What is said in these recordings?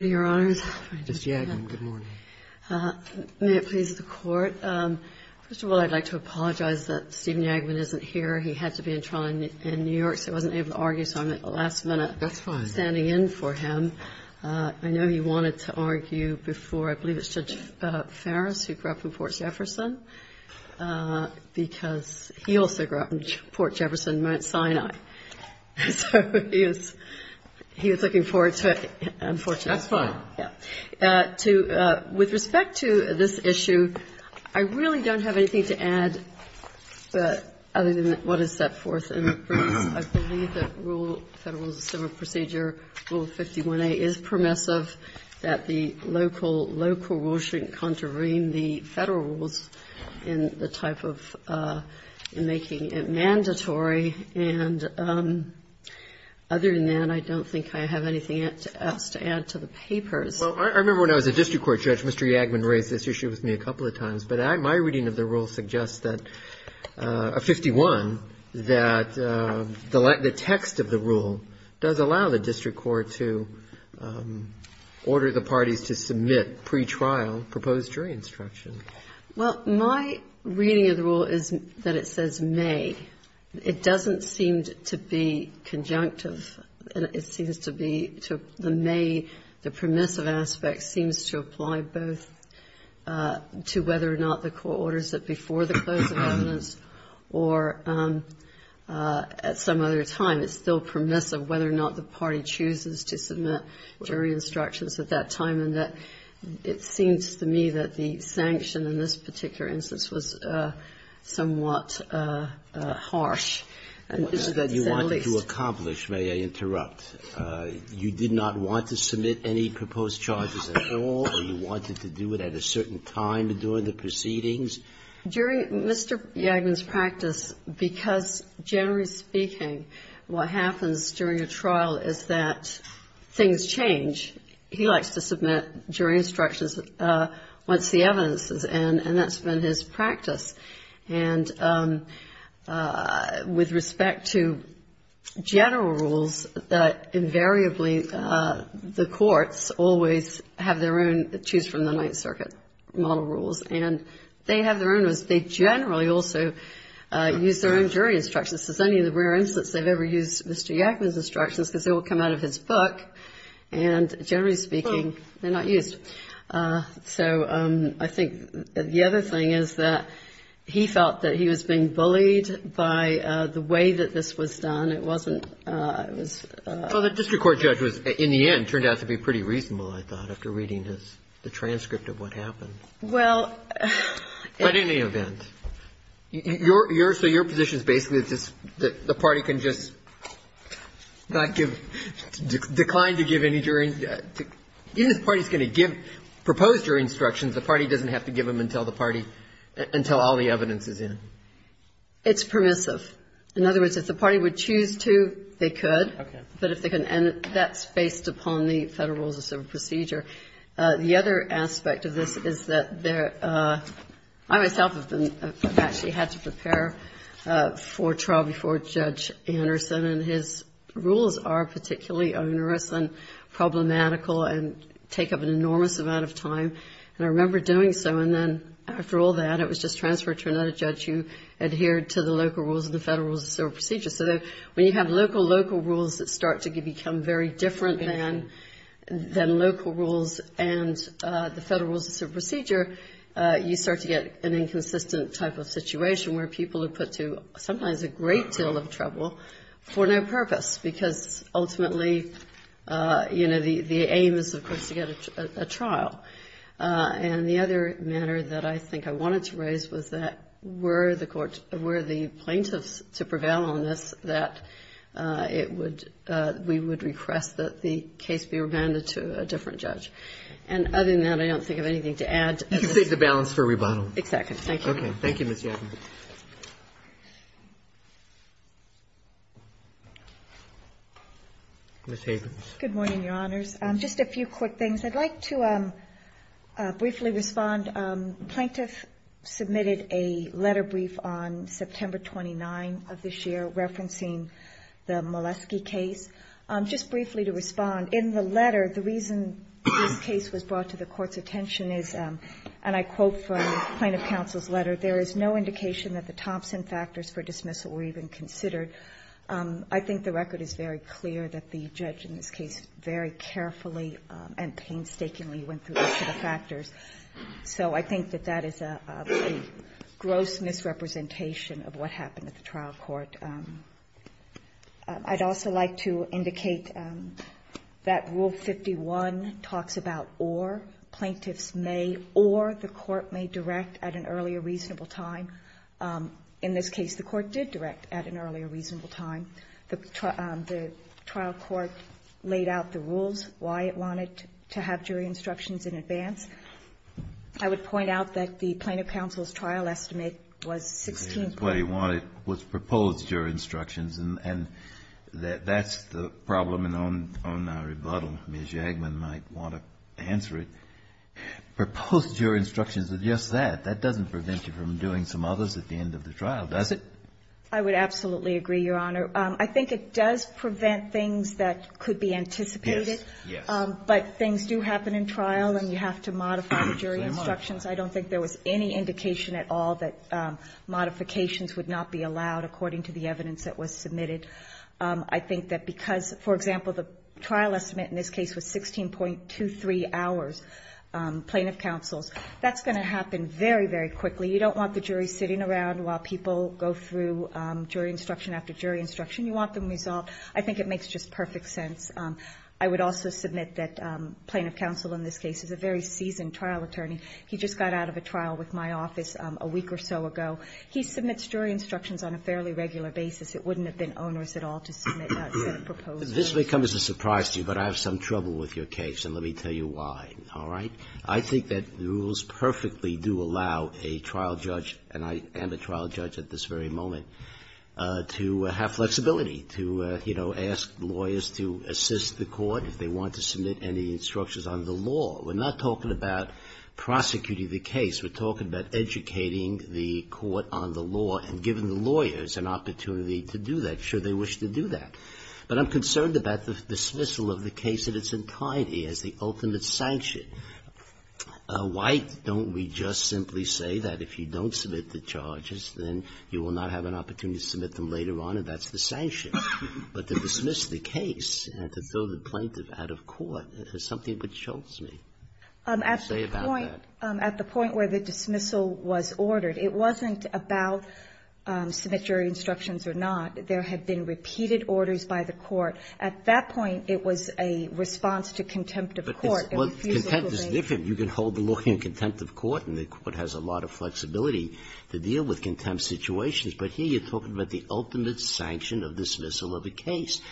May it please the Court. First of all, I'd like to apologize that Steven Yagman isn't here. He had to be in trial in New York, so he wasn't able to argue, so I'm at the last minute standing in for him. I know he wanted to argue before, I believe it's Judge Farris, who grew up in Port Jefferson, because he also grew up in Port Jefferson, Mount Sinai. So he was looking forward to it, unfortunately. That's fine. With respect to this issue, I really don't have anything to add other than what is set forth in the briefs. I believe that Rule 51a is permissive, that the local rules shouldn't contravene the Federal rules in the type of making it mandatory. And other than that, I don't think I have anything else to add to the papers. Well, I remember when I was a district court judge, Mr. Yagman raised this issue with me a couple of times. But my reading of the rule suggests that 51, that the text of the rule does allow the district court to order the parties to submit pretrial proposed jury instruction. Well, my reading of the rule is that it says may. It doesn't seem to be conjunctive. It seems to be to the may, the permissive aspect seems to apply both to whether or not the court orders it before the closing evidence or at some other time. It's still permissive whether or not the party chooses to submit jury instructions at that time. And it seems to me that the sanction in this particular instance was somewhat harsh. And that is at least the case. What you wanted to accomplish, may I interrupt, you did not want to submit any proposed charges at all, or you wanted to do it at a certain time during the proceedings? During Mr. Yagman's practice, because generally speaking, what happens during a trial is that things change. He likes to submit jury instructions once the evidence is in, and that's been his practice. And with respect to general rules, invariably the courts always have their own choose-from-the-Ninth-Circuit model rules, and they have their own rules. They generally also use their own jury instructions. This is only the rare instance they've ever used Mr. Yagman's instructions, because they all come out of his book. And generally speaking, they're not used. So I think the other thing is that he felt that he was being bullied by the way that this was done. It wasn't – it was – Well, the district court judge was, in the end, turned out to be pretty reasonable, I thought, after reading the transcript of what happened. Well – But in any event, your – so your position is basically that the party can just not give – decline to give any jury – even if the party is going to give – propose jury instructions, the party doesn't have to give them until the party – until all the evidence is in. It's permissive. In other words, if the party would choose to, they could. Okay. But if they can – and that's based upon the Federal Rules of Civil Procedure. The other aspect of this is that there – I myself have been – I've actually had to prepare for trial before Judge Anderson, and his rules are particularly onerous and problematical and take up an enormous amount of time. And I remember doing so, and then after all that, it was just transferred to another judge who adhered to the local rules and the Federal Rules of Civil Procedure. So when you have local, local rules that start to become very different than local rules and the Federal Rules of Civil Procedure, you start to get an inconsistent type of situation where people are put to sometimes a great deal of trouble for no purpose, because ultimately, you know, the aim is, of course, to get a trial. And the other matter that I think I wanted to raise was that were the court – to prevail on this, that it would – we would request that the case be remanded to a different judge. And other than that, I don't think I have anything to add. You can save the balance for rebuttal. Exactly. Thank you. Okay. Thank you, Ms. Yadkin. Ms. Havens. Good morning, Your Honors. Just a few quick things. I'd like to briefly respond. Plaintiff submitted a letter brief on September 29 of this year referencing the Molesky case. Just briefly to respond, in the letter, the reason this case was brought to the Court's attention is, and I quote from Plaintiff Counsel's letter, there is no indication that the Thompson factors for dismissal were even considered. I think the record is very clear that the judge in this case very carefully So I think that that is a gross misrepresentation of what happened at the trial court. I'd also like to indicate that Rule 51 talks about or. Plaintiffs may or the court may direct at an earlier reasonable time. In this case, the court did direct at an earlier reasonable time. The trial court laid out the rules, why it wanted to have jury instructions in advance. I would point out that the Plaintiff Counsel's trial estimate was 16 points. What he wanted was proposed jury instructions, and that's the problem in our rebuttal. Ms. Yadkin might want to answer it. Proposed jury instructions are just that. That doesn't prevent you from doing some others at the end of the trial, does it? I would absolutely agree, Your Honor. I think it does prevent things that could be anticipated. Yes, yes. But things do happen in trial, and you have to modify the jury instructions. I don't think there was any indication at all that modifications would not be allowed, according to the evidence that was submitted. I think that because, for example, the trial estimate in this case was 16.23 hours, Plaintiff Counsel's, that's going to happen very, very quickly. You don't want the jury sitting around while people go through jury instruction after jury instruction. You want them resolved. I think it makes just perfect sense. I would also submit that Plaintiff Counsel in this case is a very seasoned trial attorney. He just got out of a trial with my office a week or so ago. He submits jury instructions on a fairly regular basis. It wouldn't have been onerous at all to submit a proposed jury instruction. This may come as a surprise to you, but I have some trouble with your case, and let me tell you why, all right? I think that the rules perfectly do allow a trial judge, and I am a trial judge at this very moment, to have flexibility, to, you know, ask lawyers to assist the court if they want to submit any instructions on the law. We're not talking about prosecuting the case. We're talking about educating the court on the law and giving the lawyers an opportunity to do that, should they wish to do that. But I'm concerned about the dismissal of the case in its entirety as the ultimate sanction. Why don't we just simply say that if you don't submit the charges, then you will not have an opportunity to submit them later on, and that's the sanction? But to dismiss the case and to throw the plaintiff out of court is something which shoves me. Say about that. At the point where the dismissal was ordered, it wasn't about submit jury instructions or not. There had been repeated orders by the court. At that point, it was a response to contempt of court. I refuse to believe that. Sotomayor Well, contempt is different. You can hold the lawyer in contempt of court, and the court has a lot of flexibility to deal with contempt situations. But here you're talking about the ultimate sanction of dismissal of a case.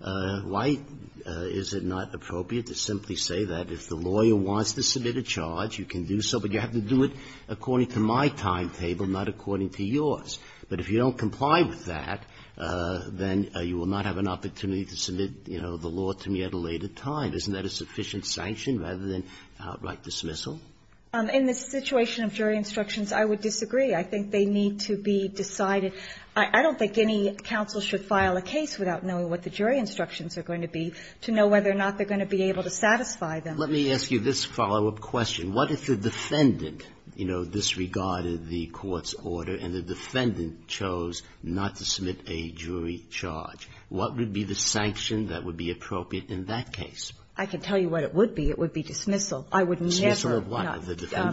Why is it not appropriate to simply say that if the lawyer wants to submit a charge, you can do so, but you have to do it according to my timetable, not according to yours? But if you don't comply with that, then you will not have an opportunity to submit, you know, the law to me at a later time. Isn't that a sufficient sanction rather than outright dismissal? In the situation of jury instructions, I would disagree. I think they need to be decided. I don't think any counsel should file a case without knowing what the jury instructions are going to be to know whether or not they're going to be able to satisfy them. Let me ask you this follow-up question. What if the defendant, you know, disregarded the court's order and the defendant chose not to submit a jury charge? What would be the sanction that would be appropriate in that case? I can tell you what it would be. It would be dismissal. I would never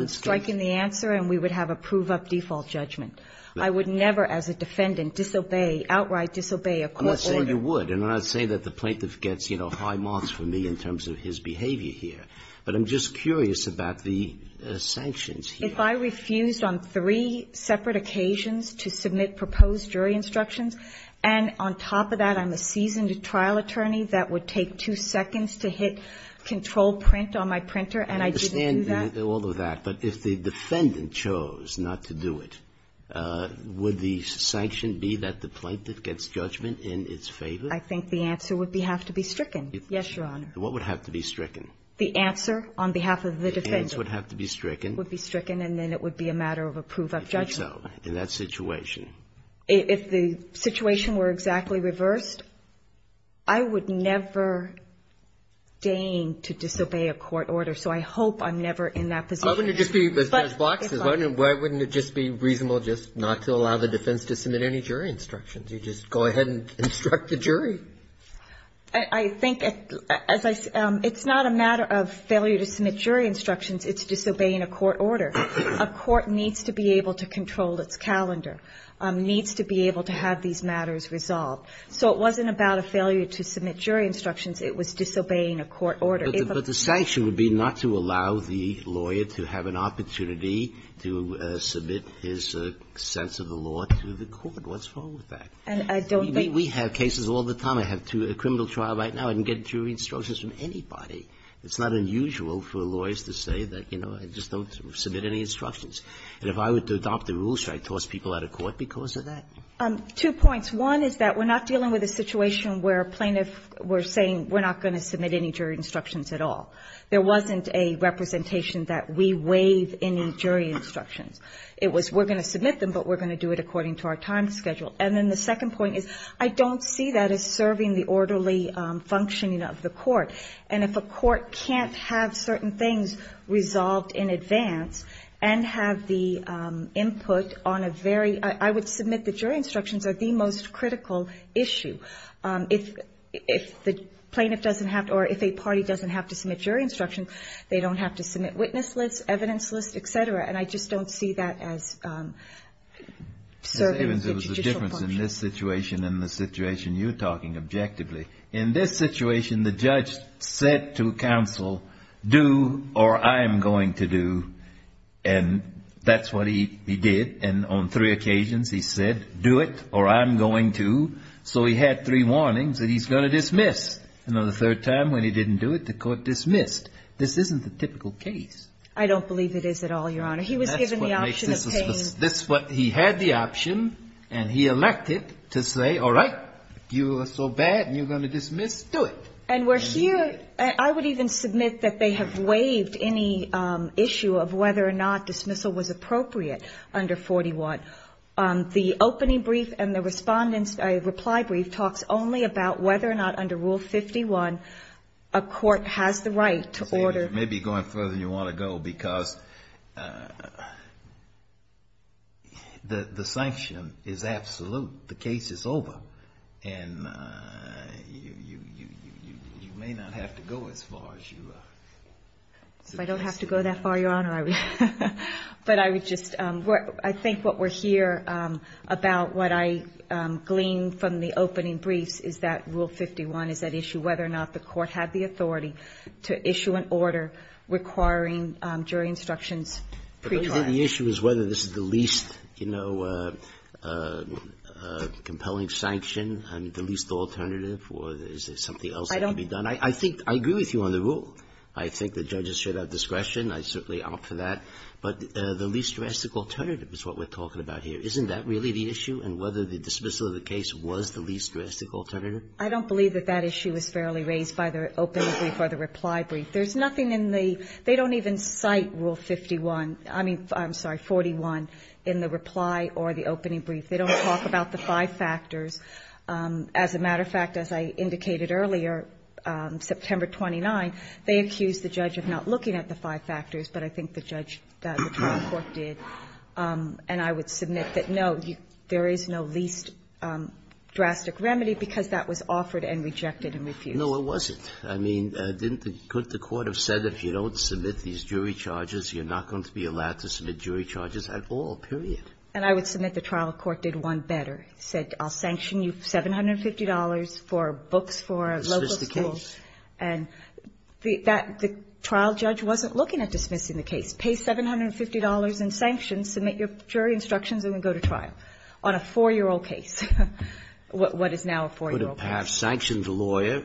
strike in the answer and we would have a prove-up default judgment. I would never as a defendant disobey, outright disobey a court order. I'm not saying you would, and I'm not saying that the plaintiff gets, you know, high marks from me in terms of his behavior here. But I'm just curious about the sanctions here. If I refused on three separate occasions to submit proposed jury instructions and on top of that I'm a seasoned trial attorney, that would take two seconds to hit control print on my printer and I didn't do that? I understand all of that. But if the defendant chose not to do it, would the sanction be that the plaintiff gets judgment in its favor? I think the answer would have to be stricken. Yes, Your Honor. What would have to be stricken? The answer on behalf of the defendant. The answer would have to be stricken. It would be stricken and then it would be a matter of a prove-up judgment. If it's so, in that situation. If the situation were exactly reversed, I would never deign to disobey a court order, so I hope I'm never in that position. Why wouldn't it just be, Ms. Blox, why wouldn't it just be reasonable just not to allow the defense to submit any jury instructions? You just go ahead and instruct the jury. I think, as I say, it's not a matter of failure to submit jury instructions, it's disobeying a court order. A court needs to be able to control its calendar. Needs to be able to have these matters resolved. So it wasn't about a failure to submit jury instructions, it was disobeying a court order. But the sanction would be not to allow the lawyer to have an opportunity to submit his sense of the law to the court. What's wrong with that? And I don't think we have cases all the time. I have a criminal trial right now. I didn't get jury instructions from anybody. It's not unusual for lawyers to say that, you know, I just don't submit any instructions. And if I were to adopt a rule, should I toss people out of court because of that? Two points. One is that we're not dealing with a situation where a plaintiff were saying we're not going to submit any jury instructions at all. There wasn't a representation that we waive any jury instructions. It was we're going to submit them, but we're going to do it according to our time schedule. And then the second point is I don't see that as serving the orderly functioning of the court. And if a court can't have certain things resolved in advance and have the input on a very – I would submit the jury instructions are the most critical issue. If the plaintiff doesn't have to or if a party doesn't have to submit jury instructions, they don't have to submit witness lists, evidence lists, et cetera. And I just don't see that as serving the judicial function. Because in this situation and the situation you're talking objectively, in this situation the judge said to counsel, do or I'm going to do. And that's what he did. And on three occasions he said, do it or I'm going to. So he had three warnings that he's going to dismiss. And on the third time when he didn't do it, the court dismissed. This isn't the typical case. I don't believe it is at all, Your Honor. He was given the option of paying. He had the option and he elected to say, all right, if you are so bad and you're going to dismiss, do it. And we're here – I would even submit that they have waived any issue of whether or not dismissal was appropriate under 41. The opening brief and the respondent's reply brief talks only about whether or not under Rule 51 a court has the right to order. Maybe going further than you want to go, because the sanction is absolute. The case is over. And you may not have to go as far as you are. If I don't have to go that far, Your Honor, I would just – I think what we're here about, what I gleaned from the opening briefs, is that Rule 51 is at issue whether or not the court had the authority to issue an order requiring jury instructions pre-trial. But the issue is whether this is the least, you know, compelling sanction and the least alternative, or is there something else that can be done? I don't – I think – I agree with you on the rule. I think the judges should have discretion. I certainly opt for that. But the least juristic alternative is what we're talking about here. Isn't that really the issue, and whether the dismissal of the case was the least juristic alternative? I don't believe that that issue is fairly raised by the opening brief or the reply brief. There's nothing in the – they don't even cite Rule 51 – I mean, I'm sorry, 41 in the reply or the opening brief. They don't talk about the five factors. As a matter of fact, as I indicated earlier, September 29, they accused the judge of not looking at the five factors, but I think the judge, the trial court did. And I would submit that, no, there is no least drastic remedy because that was offered and rejected and refused. No, it wasn't. I mean, couldn't the court have said if you don't submit these jury charges, you're not going to be allowed to submit jury charges at all, period? And I would submit the trial court did one better. It said, I'll sanction you $750 for books for local schools. Dismiss the case. And the trial judge wasn't looking at dismissing the case. Pay $750 in sanctions, submit your jury instructions, and then go to trial on a 4-year-old case, what is now a 4-year-old case. The court would have perhaps sanctioned the lawyer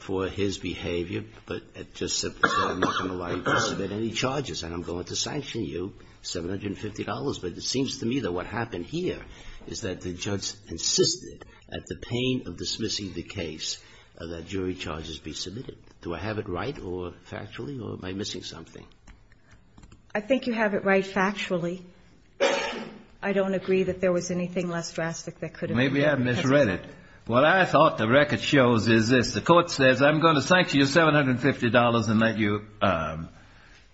for his behavior, but it just said I'm not going to allow you to submit any charges and I'm going to sanction you $750. But it seems to me that what happened here is that the judge insisted at the pain of dismissing the case that jury charges be submitted. Do I have it right or factually, or am I missing something? I think you have it right factually. Maybe I misread it. What I thought the record shows is this. The court says I'm going to sanction you $750 and let you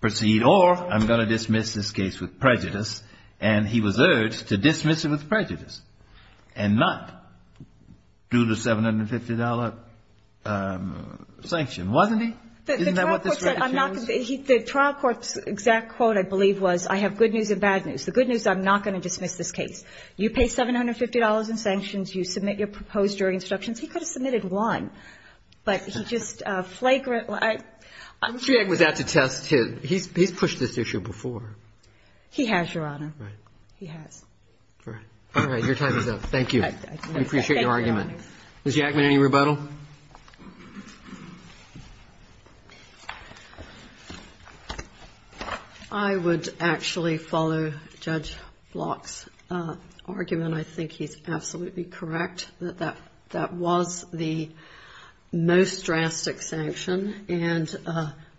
proceed, or I'm going to dismiss this case with prejudice. And he was urged to dismiss it with prejudice and not do the $750 sanction, wasn't he? Isn't that what this record shows? The trial court's exact quote, I believe, was I have good news and bad news. The court said you pay $750 in sanctions, you submit your proposed jury instructions. He could have submitted one, but he just flagrantly – Mr. Yagg was out to test him. He's pushed this issue before. He has, Your Honor. Right. He has. All right. Your time is up. Thank you. I appreciate your argument. Thank you, Your Honor. Ms. Yaggman, any rebuttal? I would actually follow Judge Block's argument. I think he's absolutely correct that that was the most drastic sanction and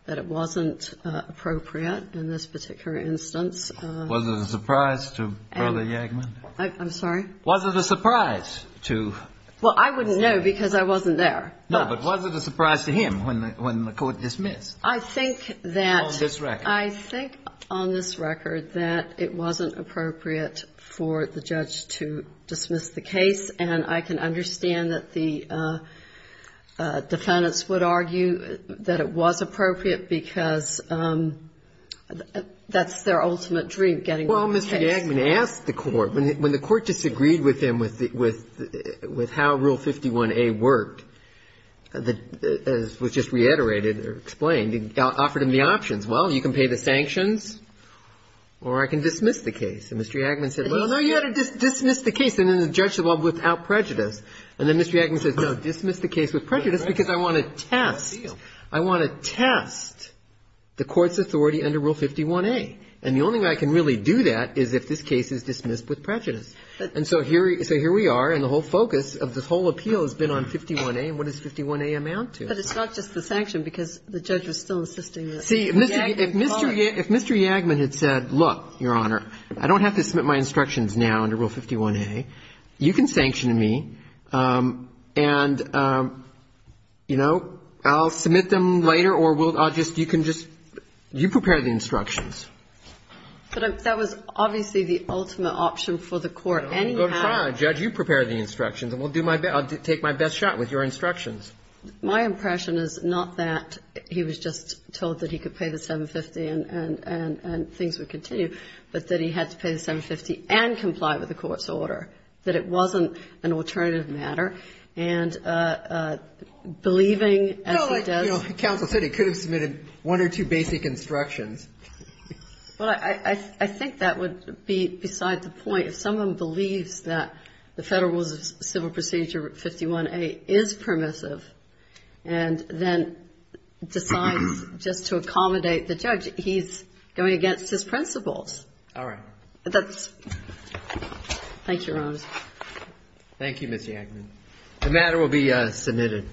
that it wasn't appropriate in this particular instance. Was it a surprise to Brother Yaggman? I'm sorry? Was it a surprise to Brother Yaggman? Well, I wouldn't know because I wasn't there. No, but was it a surprise to him when the court dismissed? I think that – On this record. I think on this record that it wasn't appropriate for the judge to dismiss the case, and I can understand that the defendants would argue that it was appropriate because that's their ultimate dream, getting the case. Well, Mr. Yaggman asked the court, when the court disagreed with him with how Rule 51A worked, as was just reiterated or explained, offered him the options, well, you can pay the sanctions or I can dismiss the case. And Mr. Yaggman said, well, no, you ought to dismiss the case. And then the judge said, well, without prejudice. And then Mr. Yaggman said, no, dismiss the case with prejudice because I want to test, I want to test the case. And the only way I can really do that is if this case is dismissed with prejudice. And so here we are, and the whole focus of this whole appeal has been on 51A, and what does 51A amount to? But it's not just the sanction because the judge was still insisting that Yaggman could. See, if Mr. Yaggman had said, look, Your Honor, I don't have to submit my instructions now under Rule 51A. You can sanction me, and, you know, I'll submit them later or we'll go to court. I'll just, you can just, you prepare the instructions. But that was obviously the ultimate option for the Court. And you have to. Judge, you prepare the instructions, and we'll do my best, I'll take my best shot with your instructions. My impression is not that he was just told that he could pay the 750 and things would continue, but that he had to pay the 750 and comply with the Court's order, that it wasn't an alternative matter, and believing as he does. No, like, you know, counsel said he could have submitted one or two basic instructions. Well, I think that would be beside the point. If someone believes that the Federal Rules of Civil Procedure 51A is permissive and then decides just to accommodate the judge, he's going against his principles. All right. That's, thank you, Your Honor. Thank you, Ms. Yaggman. The matter will be submitted.